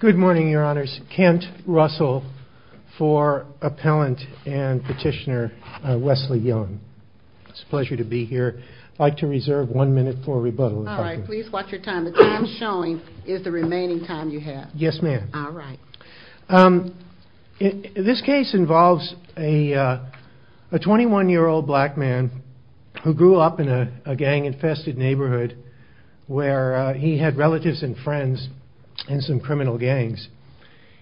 Good morning, your honors. Kent Russell for appellant and petitioner Wesley Young. It's a pleasure to be here. I'd like to reserve one minute for rebuttal, if I can. All right. Please watch your time. The time showing is the remaining time you have. Yes, ma'am. All right. This case involves a 21-year-old black man who grew up in a gang-infested neighborhood where he had relatives and friends in some criminal gangs.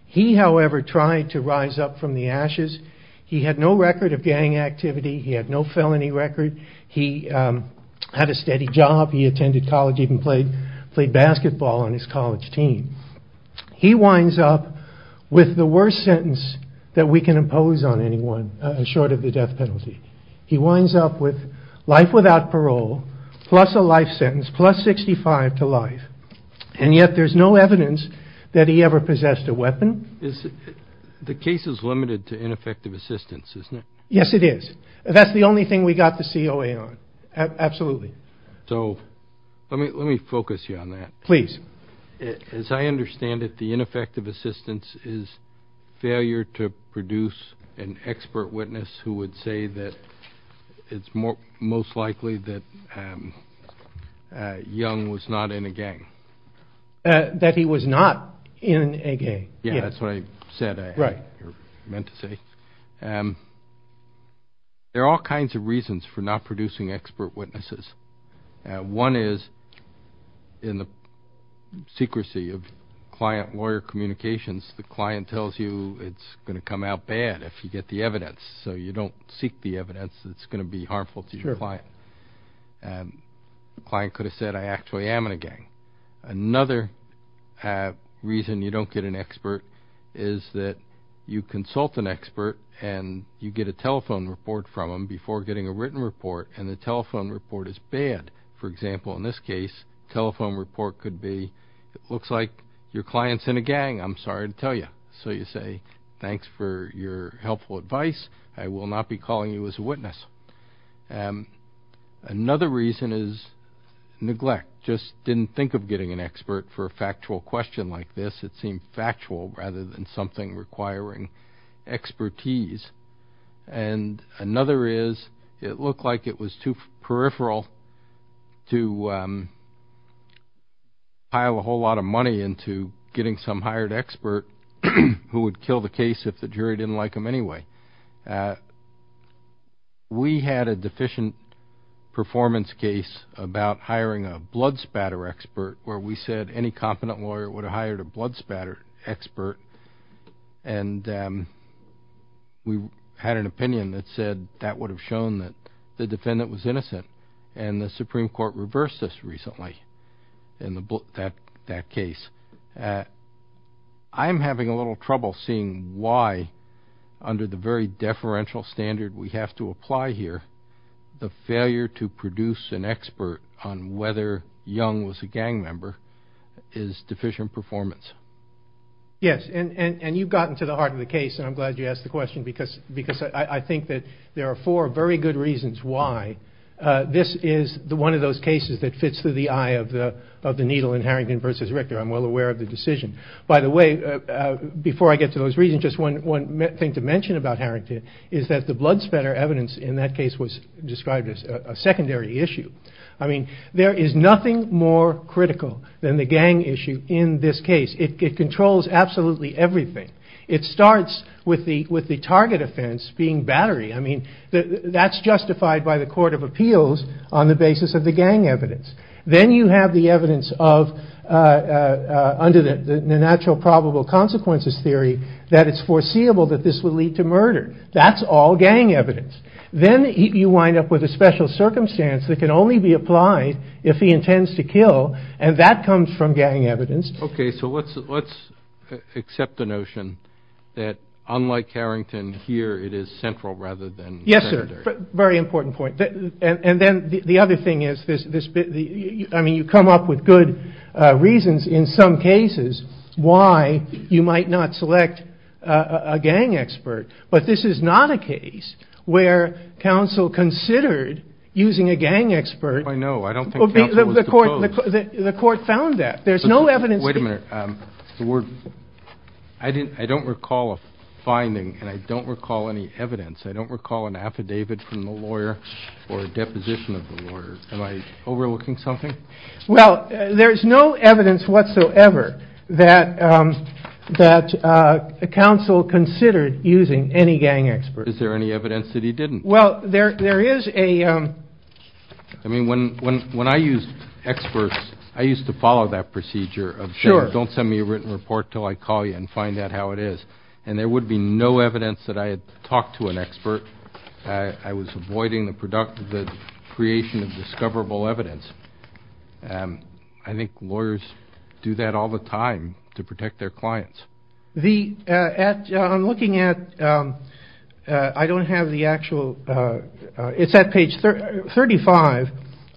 He, however, tried to rise up from the ashes. He had no record of gang activity. He had no felony record. He had a steady job. He attended college, even played basketball on his college team. He winds up with the worst sentence that we can impose on anyone short of the death penalty. He winds up with life without parole, plus a life sentence, plus 65 to life. And yet there's no evidence that he ever possessed a weapon. The case is limited to ineffective assistance, isn't it? Yes, it is. That's the only thing we got the COA on. Absolutely. So let me focus you on that. Please. As I understand it, the ineffective assistance is failure to produce an expert witness who would say that it's most likely that Young was not in a gang. Yeah, that's what I said, or meant to say. There are all kinds of reasons for not producing expert witnesses. One is in the secrecy of client-lawyer communications, the client tells you it's going to come out bad if you get the evidence. So you don't seek the evidence that's going to be harmful to your client. The client could have said, I actually am in a gang. Another reason you don't get an expert is that you consult an expert and you get a telephone report from them before getting a written report, and the telephone report is bad. For example, in this case, telephone report could be, it looks like your client's in a gang. I'm sorry to tell you. So you say, thanks for your helpful advice. I will not be calling you as a witness. Another reason is neglect, just didn't think of getting an expert for a factual question like this. It seemed factual rather than something requiring expertise. And another is it looked like it was too peripheral to pile a whole lot of money into getting some hired expert who would kill the case if the jury didn't like him anyway. We had a deficient performance case about hiring a blood spatter expert where we said any competent lawyer would have hired a blood spatter expert. And we had an opinion that said that would have shown that the defendant was innocent. And the Supreme Court reversed this recently in that case. I'm having a little trouble seeing why under the very deferential standard we have to apply here, the failure to produce an expert on whether Young was a gang member is deficient performance. Yes, and you've gotten to the heart of the case, and I'm glad you asked the question, because I think that there are four very good reasons why this is one of those cases that fits through the eye of the needle in Harrington versus Richter. I'm well aware of the decision. By the way, before I get to those reasons, just one thing to mention about Harrington is that the blood spatter evidence in that case was described as a secondary issue. I mean, there is nothing more critical than the gang issue in this case. It controls absolutely everything. It starts with the target offense being battery. I mean, that's justified by the Court of Appeals on the basis of the gang evidence. Then you have the evidence of under the natural probable consequences theory that it's foreseeable that this will lead to murder. That's all gang evidence. Then you wind up with a special circumstance that can only be applied if he intends to kill, and that comes from gang evidence. Okay, so let's accept the notion that unlike Harrington here, it is central rather than secondary. Yes, sir. Very important point. And then the other thing is, I mean, you come up with good reasons in some cases why you might not select a gang expert, but this is not a case where counsel considered using a gang expert. I know. I don't think counsel was opposed. The court found that. There's no evidence. Wait a minute. I don't recall a finding, and I don't recall any evidence. I don't recall an affidavit from the lawyer or a deposition of the lawyer. Am I overlooking something? Well, there's no evidence whatsoever that counsel considered using any gang expert. Is there any evidence that he didn't? Well, there is a – I mean, when I used experts, I used to follow that procedure of saying, don't send me a written report until I call you and find out how it is. And there would be no evidence that I had talked to an expert. I was avoiding the creation of discoverable evidence. I think lawyers do that all the time to protect their clients. I'm looking at – I don't have the actual – it's at page 35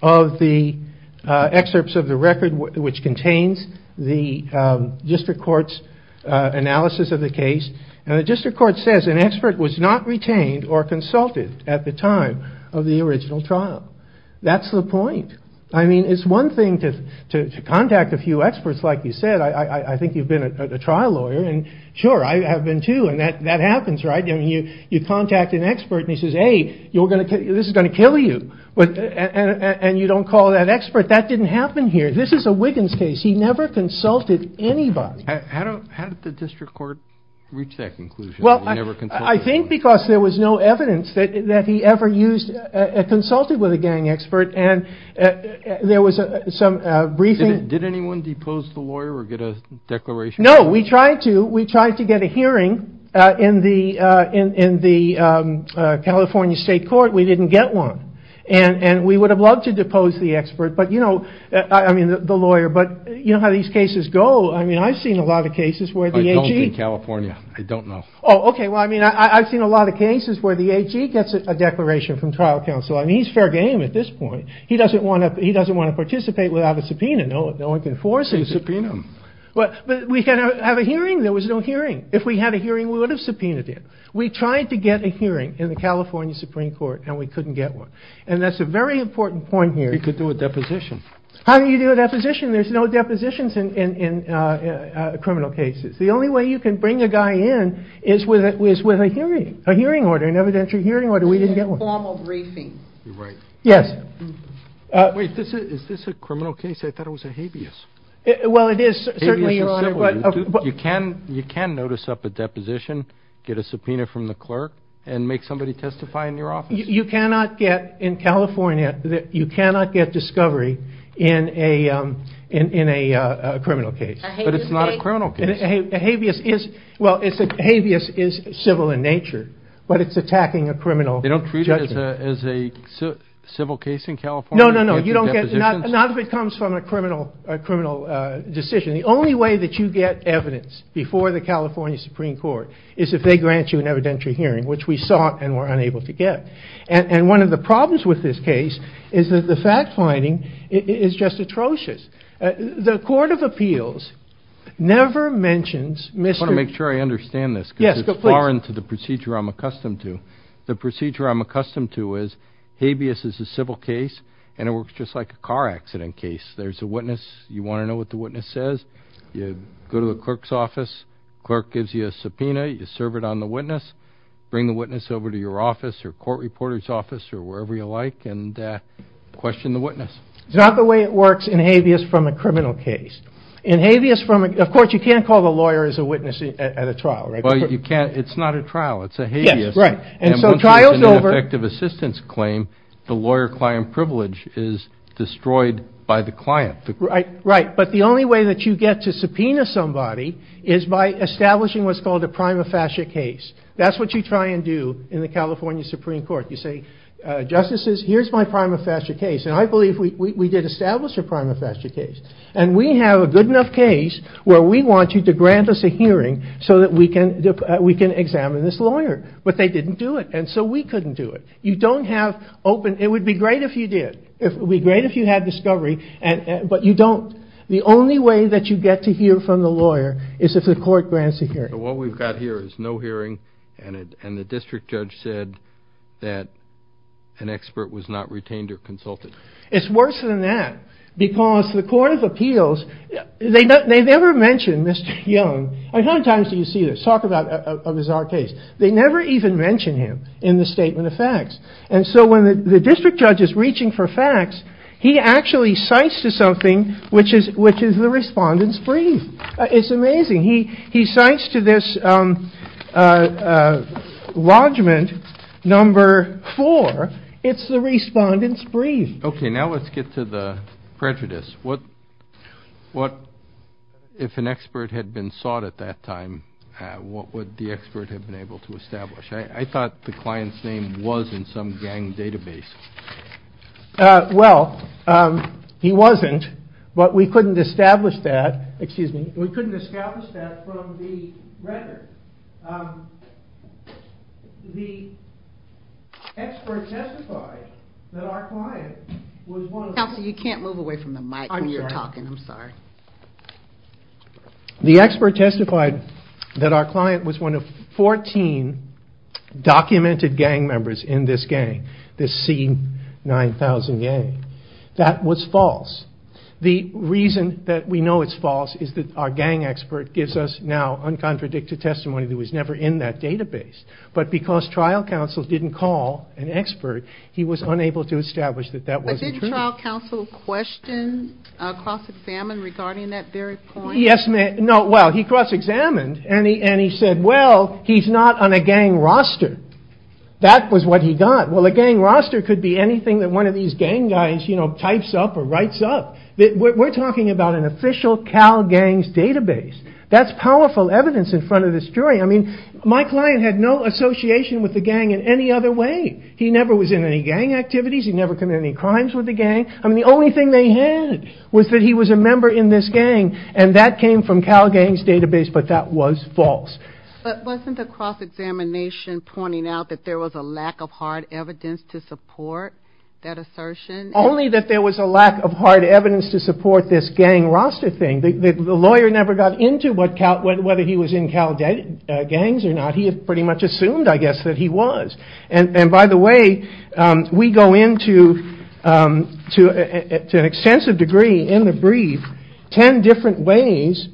of the excerpts of the record, which contains the district court's analysis of the case. And the district court says an expert was not retained or consulted at the time of the original trial. That's the point. I mean, it's one thing to contact a few experts, like you said. I think you've been a trial lawyer. And sure, I have been too, and that happens, right? You contact an expert, and he says, hey, this is going to kill you. And you don't call that expert. That didn't happen here. This is a Wiggins case. He never consulted anybody. How did the district court reach that conclusion? Well, I think because there was no evidence that he ever consulted with a gang expert. And there was some briefing – Did anyone depose the lawyer or get a declaration? No, we tried to. We tried to get a hearing in the California state court. We didn't get one. And we would have loved to depose the expert, but, you know – I mean, the lawyer. But you know how these cases go. I mean, I've seen a lot of cases where the AG – I don't in California. I don't know. Oh, okay. Well, I mean, I've seen a lot of cases where the AG gets a declaration from trial counsel. I mean, he's fair game at this point. He doesn't want to participate without a subpoena. No one can force him. Subpoena him. But we can have a hearing. There was no hearing. If we had a hearing, we would have subpoenaed him. We tried to get a hearing in the California Supreme Court, and we couldn't get one. And that's a very important point here. You could do a deposition. How do you do a deposition? There's no depositions in criminal cases. The only way you can bring a guy in is with a hearing, a hearing order, an evidentiary hearing order. We didn't get one. A formal briefing. You're right. Yes. Wait. Is this a criminal case? I thought it was a habeas. Well, it is, certainly, Your Honor. You can notice up a deposition, get a subpoena from the clerk, and make somebody testify in your office. You cannot get in California, you cannot get discovery in a criminal case. But it's not a criminal case. A habeas is, well, a habeas is civil in nature, but it's attacking a criminal judgment. They don't treat it as a civil case in California? No, no, no. Not if it comes from a criminal decision. The only way that you get evidence before the California Supreme Court is if they grant you an evidentiary hearing, which we sought and were unable to get. And one of the problems with this case is that the fact-finding is just atrocious. The Court of Appeals never mentions Mr. I want to make sure I understand this because it's foreign to the procedure I'm accustomed to. The procedure I'm accustomed to is habeas is a civil case, and it works just like a car accident case. There's a witness. You want to know what the witness says? You go to the clerk's office. The clerk gives you a subpoena. You serve it on the witness. Bring the witness over to your office or court reporter's office or wherever you like and question the witness. It's not the way it works in habeas from a criminal case. In habeas from a, of course, you can't call the lawyer as a witness at a trial, right? Well, you can't. It's not a trial. It's a habeas. Yes, right. And so trial's over. And once there's an ineffective assistance claim, the lawyer-client privilege is destroyed by the client. Right. But the only way that you get to subpoena somebody is by establishing what's called a prima facie case. That's what you try and do in the California Supreme Court. You say, Justices, here's my prima facie case. And I believe we did establish a prima facie case. And we have a good enough case where we want you to grant us a hearing so that we can examine this lawyer. But they didn't do it. And so we couldn't do it. You don't have open, it would be great if you did. It would be great if you had discovery. But you don't. The only way that you get to hear from the lawyer is if the court grants a hearing. What we've got here is no hearing and the district judge said that an expert was not retained or consulted. It's worse than that because the Court of Appeals, they've never mentioned Mr. Young. How many times do you see this? Talk about a bizarre case. They never even mention him in the statement of facts. And so when the district judge is reaching for facts, he actually cites to something which is the respondent's brief. It's amazing. He cites to this lodgment number four. It's the respondent's brief. Okay, now let's get to the prejudice. What if an expert had been sought at that time, what would the expert have been able to establish? I thought the client's name was in some gang database. Well, he wasn't. But we couldn't establish that. Excuse me. We couldn't establish that from the record. The expert testified that our client was one of 14 documented gang members in this gang, this C9000 gang. That was false. The reason that we know it's false is that our gang expert gives us now uncontradicted testimony that was never in that database. But because trial counsel didn't call an expert, he was unable to establish that that wasn't true. But did trial counsel question, cross-examine regarding that very point? Yes, ma'am. No, well, he cross-examined and he said, well, he's not on a gang roster. That was what he got. Well, a gang roster could be anything that one of these gang guys, you know, types up or writes up. We're talking about an official Cal Gangs database. That's powerful evidence in front of this jury. I mean, my client had no association with the gang in any other way. He never was in any gang activities. He never committed any crimes with the gang. I mean, the only thing they had was that he was a member in this gang and that came from Cal Gangs database, but that was false. But wasn't the cross-examination pointing out that there was a lack of hard evidence to support that assertion? Only that there was a lack of hard evidence to support this gang roster thing. The lawyer never got into whether he was in Cal Gangs or not. He pretty much assumed, I guess, that he was. And by the way, we go into, to an extensive degree in the brief, 10 different ways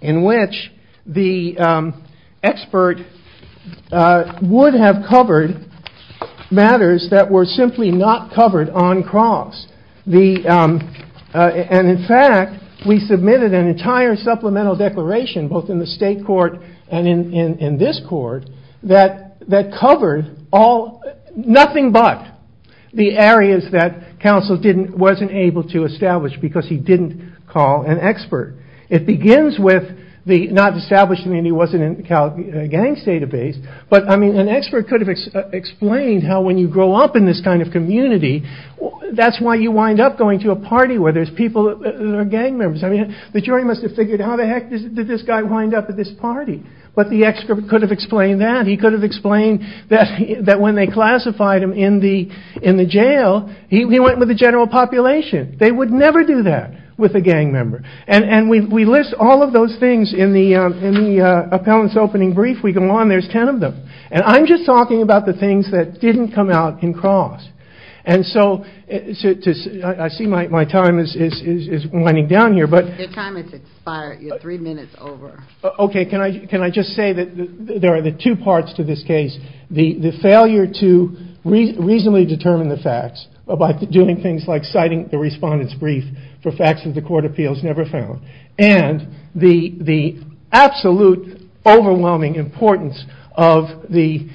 in which the expert would have covered matters that were simply not covered on cross. And in fact, we submitted an entire supplemental declaration, both in the state court and in this court, that covered nothing but the areas that counsel wasn't able to establish because he didn't call an expert. It begins with not establishing that he wasn't in the Cal Gangs database, but an expert could have explained how when you grow up in this kind of community, that's why you wind up going to a party where there's people that are gang members. I mean, the jury must have figured, how the heck did this guy wind up at this party? But the expert could have explained that. He could have explained that when they classified him in the jail, he went with the general population. They would never do that with a gang member. And we list all of those things in the appellant's opening brief. We go on, there's 10 of them. And I'm just talking about the things that didn't come out in cross. And so I see my time is winding down here. Your time has expired. You're three minutes over. Okay. Can I just say that there are the two parts to this case. The failure to reasonably determine the facts by doing things like citing the respondent's brief for facts that the court of appeals never found. And the absolute overwhelming importance of the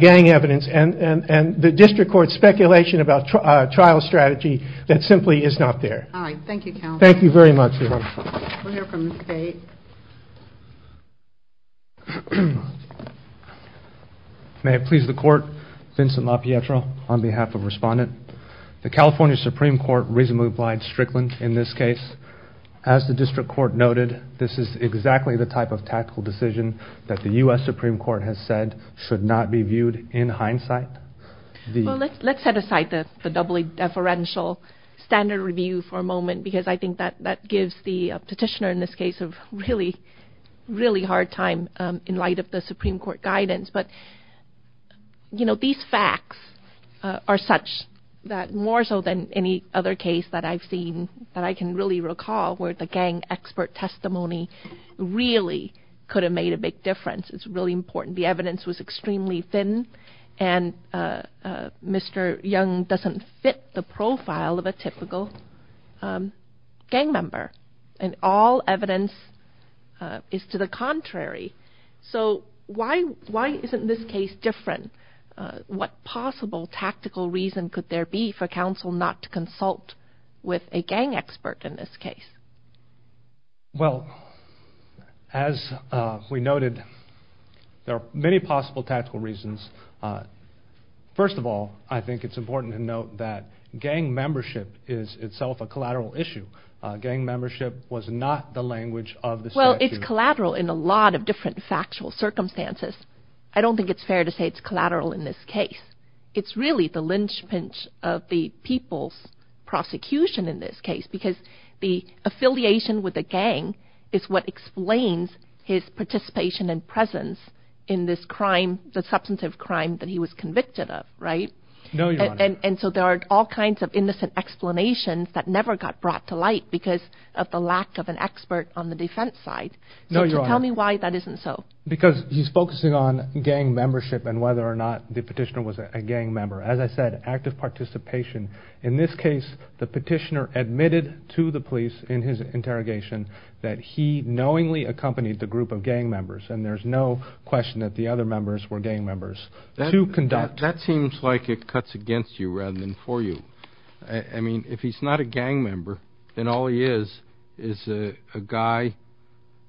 gang evidence and the district court's speculation about trial strategy that simply is not there. All right. Thank you, counsel. Thank you very much. We'll hear from the state. May it please the court. Vincent LaPietro on behalf of respondent. The California Supreme Court reasonably applied Strickland in this case. As the district court noted, this is exactly the type of tactical decision that the U.S. Supreme Court has said should not be viewed in hindsight. Let's set aside the doubly deferential standard review for a moment because I think that gives the petitioner in this case a really, really hard time in light of the Supreme Court guidance. But, you know, these facts are such that more so than any other case that I've seen that I can really recall where the gang expert testimony really could have made a big difference. It's really important. The evidence was extremely thin, and Mr. Young doesn't fit the profile of a typical gang member. And all evidence is to the contrary. So why isn't this case different? What possible tactical reason could there be for counsel not to consult with a gang expert in this case? Well, as we noted, there are many possible tactical reasons. First of all, I think it's important to note that gang membership is itself a collateral issue. Gang membership was not the language of the statute. It's collateral in a lot of different factual circumstances. I don't think it's fair to say it's collateral in this case. It's really the linchpin of the people's prosecution in this case because the affiliation with the gang is what explains his participation and presence in this crime, the substantive crime that he was convicted of. And so there are all kinds of innocent explanations that never got brought to light because of the lack of an expert on the defense side. So tell me why that isn't so. Because he's focusing on gang membership and whether or not the petitioner was a gang member. As I said, active participation. In this case, the petitioner admitted to the police in his interrogation that he knowingly accompanied the group of gang members. And there's no question that the other members were gang members. That seems like it cuts against you rather than for you. I mean, if he's not a gang member, then all he is is a guy,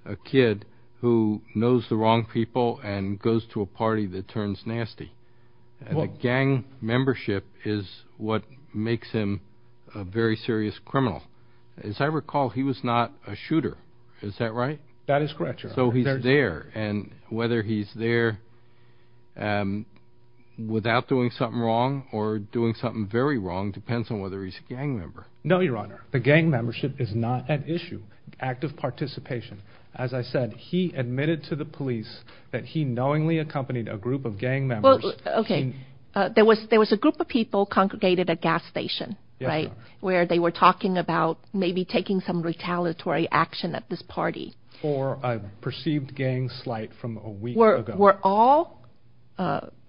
a kid who knows the wrong people and goes to a party that turns nasty. Gang membership is what makes him a very serious criminal. As I recall, he was not a shooter. That is correct, Your Honor. So he's there, and whether he's there without doing something wrong or doing something very wrong depends on whether he's a gang member. No, Your Honor. The gang membership is not an issue. Active participation. As I said, he admitted to the police that he knowingly accompanied a group of gang members. Well, okay. There was a group of people congregated at a gas station, right, where they were talking about maybe taking some retaliatory action at this party. Or a perceived gang slight from a week ago. Were all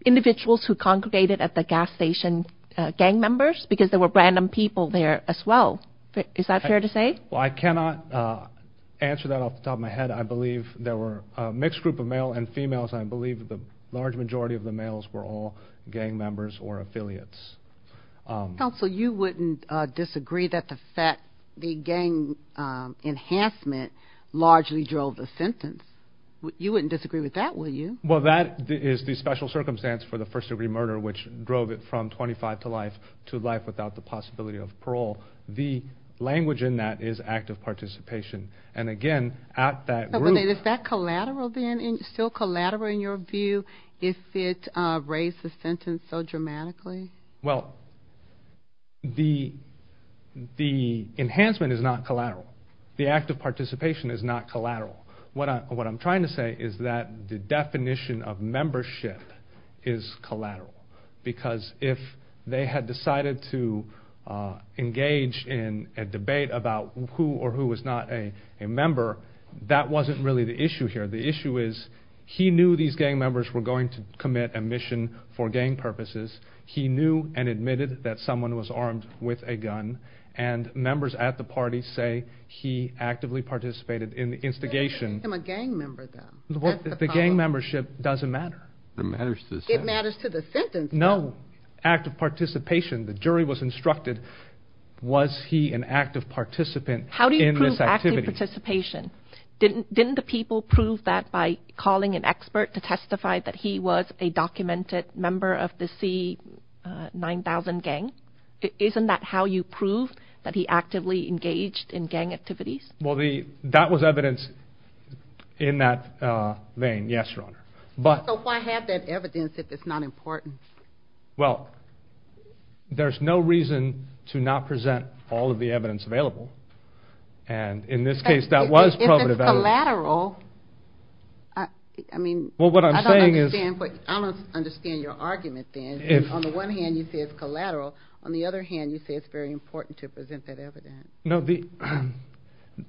individuals who congregated at the gas station gang members? Because there were random people there as well. Is that fair to say? Well, I cannot answer that off the top of my head. I believe there were a mixed group of male and females. I believe the large majority of the males were all gang members or affiliates. Counsel, you wouldn't disagree that the gang enhancement largely drove the sentence. You wouldn't disagree with that, would you? Well, that is the special circumstance for the first-degree murder, which drove it from 25 to life to life without the possibility of parole. The language in that is active participation. And again, at that group... Is that collateral then, still collateral in your view, if it raised the sentence so dramatically? Well, the enhancement is not collateral. The active participation is not collateral. What I'm trying to say is that the definition of membership is collateral. Because if they had decided to engage in a debate about who or who was not a member, that wasn't really the issue here. The issue is he knew these gang members were going to commit a mission for gang purposes. He knew and admitted that someone was armed with a gun. And members at the party say he actively participated in the instigation. You can't make him a gang member then. The gang membership doesn't matter. It matters to the sentence. No. Active participation. The jury was instructed, was he an active participant in this activity? How do you prove active participation? Didn't the people prove that by calling an expert to testify that he was a documented member of the C9000 gang? Isn't that how you prove that he actively engaged in gang activities? Well, that was evidence in that vein, yes, Your Honor. So why have that evidence if it's not important? Well, there's no reason to not present all of the evidence available. And in this case, that was provative evidence. If it's collateral, I mean, I don't understand your argument then. On the one hand, you say it's collateral. On the other hand, you say it's very important to present that evidence. No,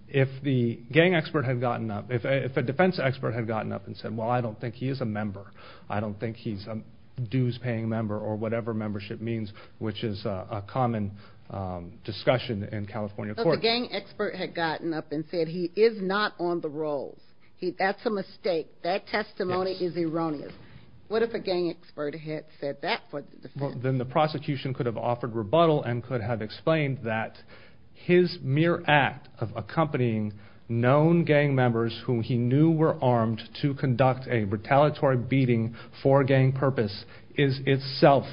if the gang expert had gotten up, if a defense expert had gotten up and said, well, I don't think he is a member, I don't think he's a dues-paying member, or whatever membership means, which is a common discussion in California court. If a gang expert had gotten up and said he is not on the rolls, that's a mistake, that testimony is erroneous. What if a gang expert had said that for the defense? Then the prosecution could have offered rebuttal and could have explained that his mere act of accompanying known gang members whom he knew were armed to conduct a retaliatory beating for a gang purpose is itself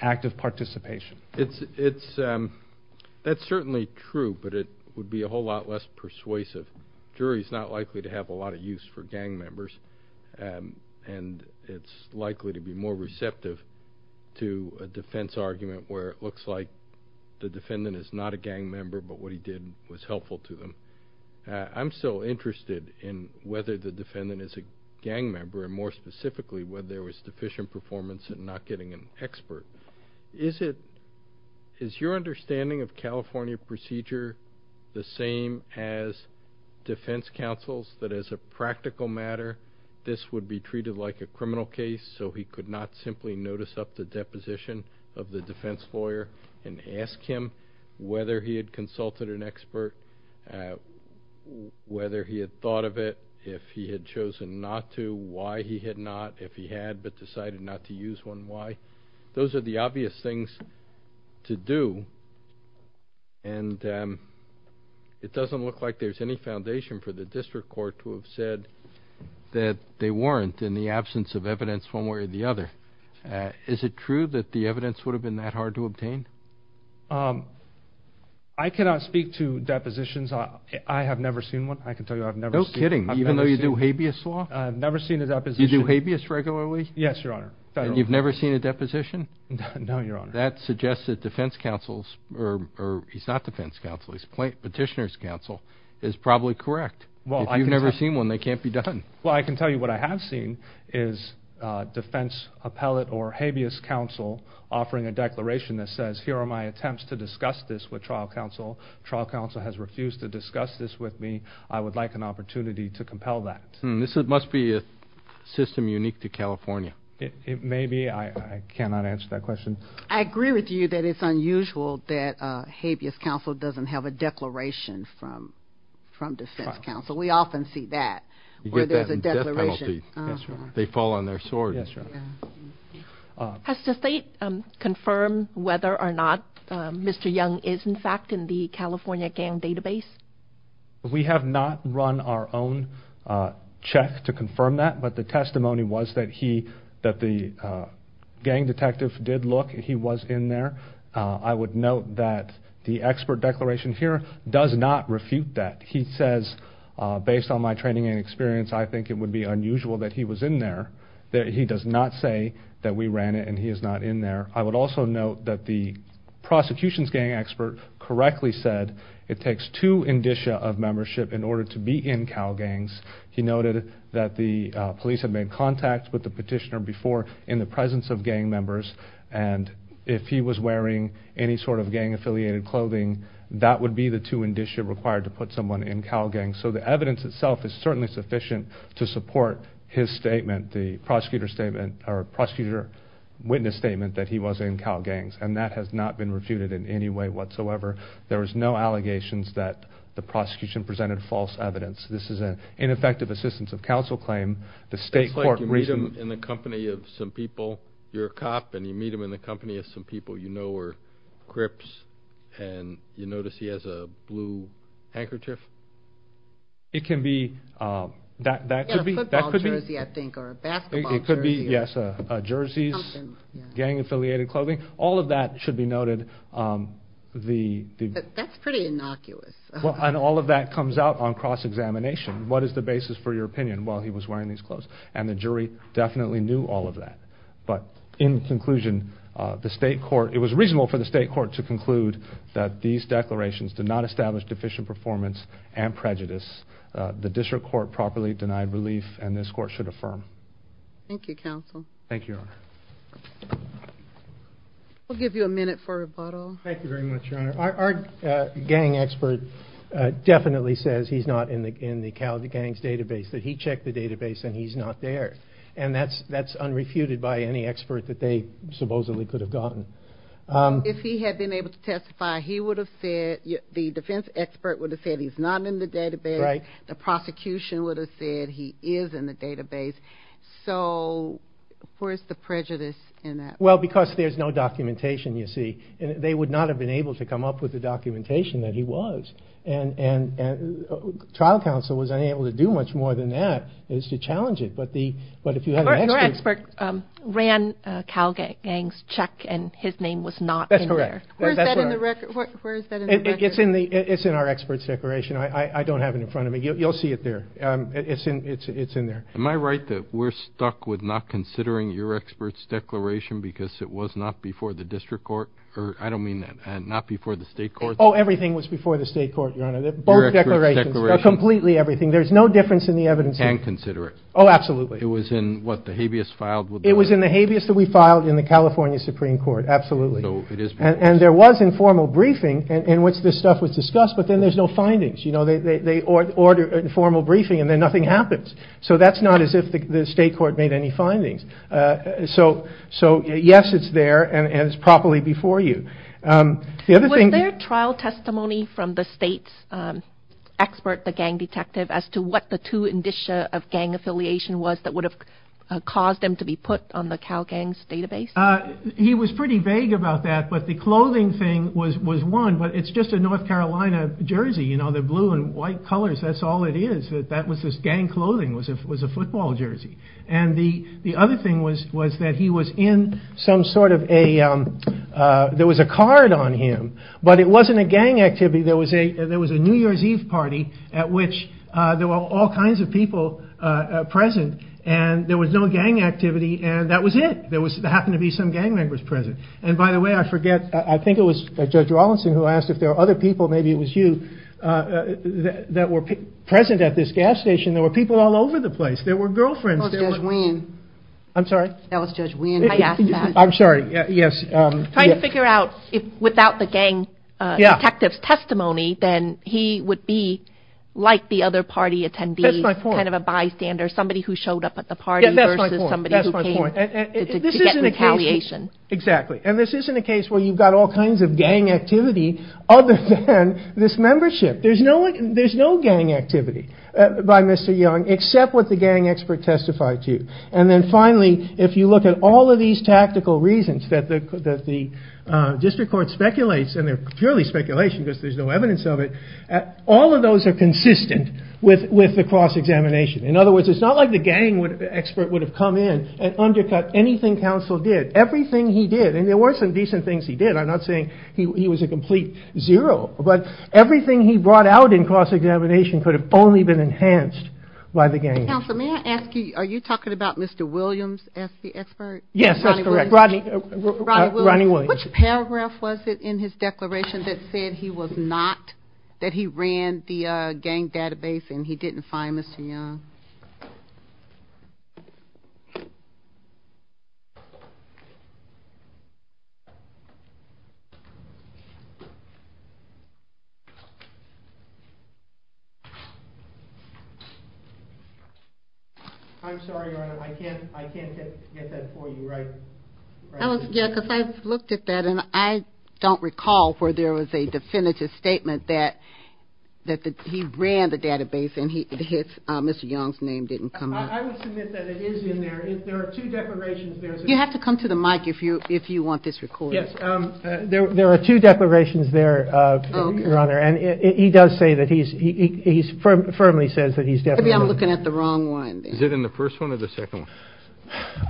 active participation. That's certainly true, but it would be a whole lot less persuasive. The jury is not likely to have a lot of use for gang members, and it's likely to be more receptive to a defense argument where it looks like the defendant is not a gang member, but what he did was helpful to them. I'm so interested in whether the defendant is a gang member, and more specifically whether there was deficient performance in not getting an expert. Is your understanding of California procedure the same as defense counsel's, that as a practical matter this would be treated like a criminal case so he could not simply notice up the deposition of the defense lawyer and ask him whether he had consulted an expert, whether he had thought of it, if he had chosen not to, why he had not, if he had but decided not to use one, why? Those are the obvious things to do, and it doesn't look like there's any foundation for the district court to have said that they weren't in the absence of evidence one way or the other. Is it true that the evidence would have been that hard to obtain? I cannot speak to depositions. I have never seen one. I can tell you I've never seen one. No kidding, even though you do habeas law? I've never seen a deposition. You do habeas regularly? Yes, Your Honor. And you've never seen a deposition? No, Your Honor. That suggests that defense counsel's, or he's not defense counsel, he's petitioner's counsel, is probably correct. If you've never seen one, they can't be done. Well, I can tell you what I have seen is defense appellate or habeas counsel offering a declaration that says here are my attempts to discuss this with trial counsel. Trial counsel has refused to discuss this with me. I would like an opportunity to compel that. This must be a system unique to California. It may be. I cannot answer that question. I agree with you that it's unusual that habeas counsel doesn't have a declaration from defense counsel. We often see that where there's a declaration. You get that in death penalty. They fall on their swords. Yes, Your Honor. Has the state confirmed whether or not Mr. Young is, in fact, in the California gang database? We have not run our own check to confirm that, but the testimony was that the gang detective did look. He was in there. I would note that the expert declaration here does not refute that. He says, based on my training and experience, I think it would be unusual that he was in there. He does not say that we ran it and he is not in there. I would also note that the prosecution's gang expert correctly said it takes two indicia of membership in order to be in cow gangs. He noted that the police had made contact with the petitioner before in the presence of gang members, and if he was wearing any sort of gang-affiliated clothing, that would be the two indicia required to put someone in cow gangs. So the evidence itself is certainly sufficient to support his statement, the prosecutor witness statement that he was in cow gangs, and that has not been refuted in any way whatsoever. There was no allegations that the prosecution presented false evidence. This is an ineffective assistance of counsel claim. It's like you meet him in the company of some people, you're a cop, and you meet him in the company of some people you know are crips, and you notice he has a blue handkerchief? It could be a football jersey, I think, or a basketball jersey. It could be, yes, a jersey, gang-affiliated clothing. All of that should be noted. That's pretty innocuous. And all of that comes out on cross-examination. What is the basis for your opinion? Well, he was wearing these clothes, and the jury definitely knew all of that. But in conclusion, it was reasonable for the state court to conclude that these declarations did not establish deficient performance and prejudice. The district court properly denied relief, and this court should affirm. Thank you, counsel. Thank you, Your Honor. We'll give you a minute for rebuttal. Thank you very much, Your Honor. Our gang expert definitely says he's not in the cow gangs database, that he checked the database, and he's not there. And that's unrefuted by any expert that they supposedly could have gotten. If he had been able to testify, he would have said, the defense expert would have said he's not in the database. Right. The prosecution would have said he is in the database. So where's the prejudice in that? Well, because there's no documentation, you see. They would not have been able to come up with the documentation that he was. And trial counsel was unable to do much more than that, is to challenge it. Your expert ran a cow gangs check, and his name was not in there. That's correct. Where is that in the record? It's in our expert's declaration. I don't have it in front of me. You'll see it there. It's in there. Am I right that we're stuck with not considering your expert's declaration because it was not before the district court? I don't mean that. Not before the state court? Oh, everything was before the state court, Your Honor. Both declarations. Your expert's declaration. Completely everything. There's no difference in the evidence. We can consider it. Oh, absolutely. It was in what, the habeas filed? It was in the habeas that we filed in the California Supreme Court. Absolutely. And there was informal briefing in which this stuff was discussed, but then there's no findings. They order informal briefing, and then nothing happens. So that's not as if the state court made any findings. So, yes, it's there, and it's properly before you. Was there trial testimony from the state's expert, the gang detective, as to what the two indicia of gang affiliation was that would have caused them to be put on the CalGangs database? He was pretty vague about that, but the clothing thing was one, but it's just a North Carolina jersey, you know, the blue and white colors, that's all it is. That was his gang clothing was a football jersey. And the other thing was that he was in some sort of a, there was a card on him, but it wasn't a gang activity. There was a New Year's Eve party at which there were all kinds of people present, and there was no gang activity, and that was it. There happened to be some gang members present. And, by the way, I forget, I think it was Judge Rawlinson who asked if there were other people, maybe it was you, that were present at this gas station. There were people all over the place. There were girlfriends. That was Judge Wein. I'm sorry? That was Judge Wein. I asked that. I'm sorry, yes. I'm trying to figure out if without the gang detective's testimony, then he would be like the other party attendees, kind of a bystander, somebody who showed up at the party versus somebody who came to get retaliation. Exactly. And this isn't a case where you've got all kinds of gang activity other than this membership. There's no gang activity by Mr. Young except what the gang expert testified to. And then, finally, if you look at all of these tactical reasons that the district court speculates, and they're purely speculation because there's no evidence of it, all of those are consistent with the cross-examination. In other words, it's not like the gang expert would have come in and undercut anything Counsel did. Everything he did, and there were some decent things he did. I'm not saying he was a complete zero, but everything he brought out in cross-examination could have only been enhanced by the gang. Counsel, may I ask you, are you talking about Mr. Williams as the expert? Yes, that's correct. Rodney Williams. Which paragraph was it in his declaration that said he was not, that he ran the gang database and he didn't find Mr. Young? I'm sorry, Your Honor, I can't get that for you right. Yeah, because I looked at that and I don't recall where there was a definitive statement that he ran the database and Mr. Young's name didn't come up. I would submit that it is in there. There are two declarations there. You have to come to the mic if you want this recorded. Yes, there are two declarations there, Your Honor, and he does say that he's, he firmly says that he's definitely. Maybe I'm looking at the wrong one. Is it in the first one or the second one?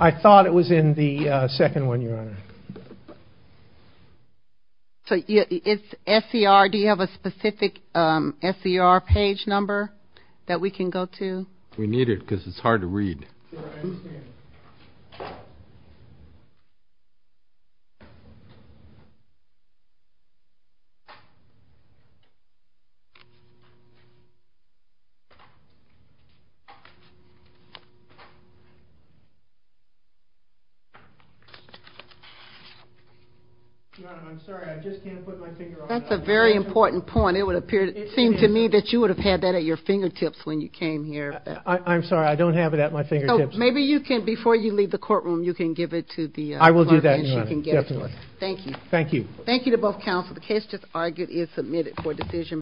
I thought it was in the second one, Your Honor. So it's SER, do you have a specific SER page number that we can go to? We need it because it's hard to read. Your Honor, I'm sorry, I just can't put my finger on it. That's a very important point. It would seem to me that you would have had that at your fingertips when you came here. I'm sorry, I don't have it at my fingertips. So maybe you can, before you leave the courtroom, you can give it to the clerk and she can get it for you. I will do that, Your Honor, definitely. Thank you. Thank you. Thank you to both counsel. The case just argued is submitted for decision.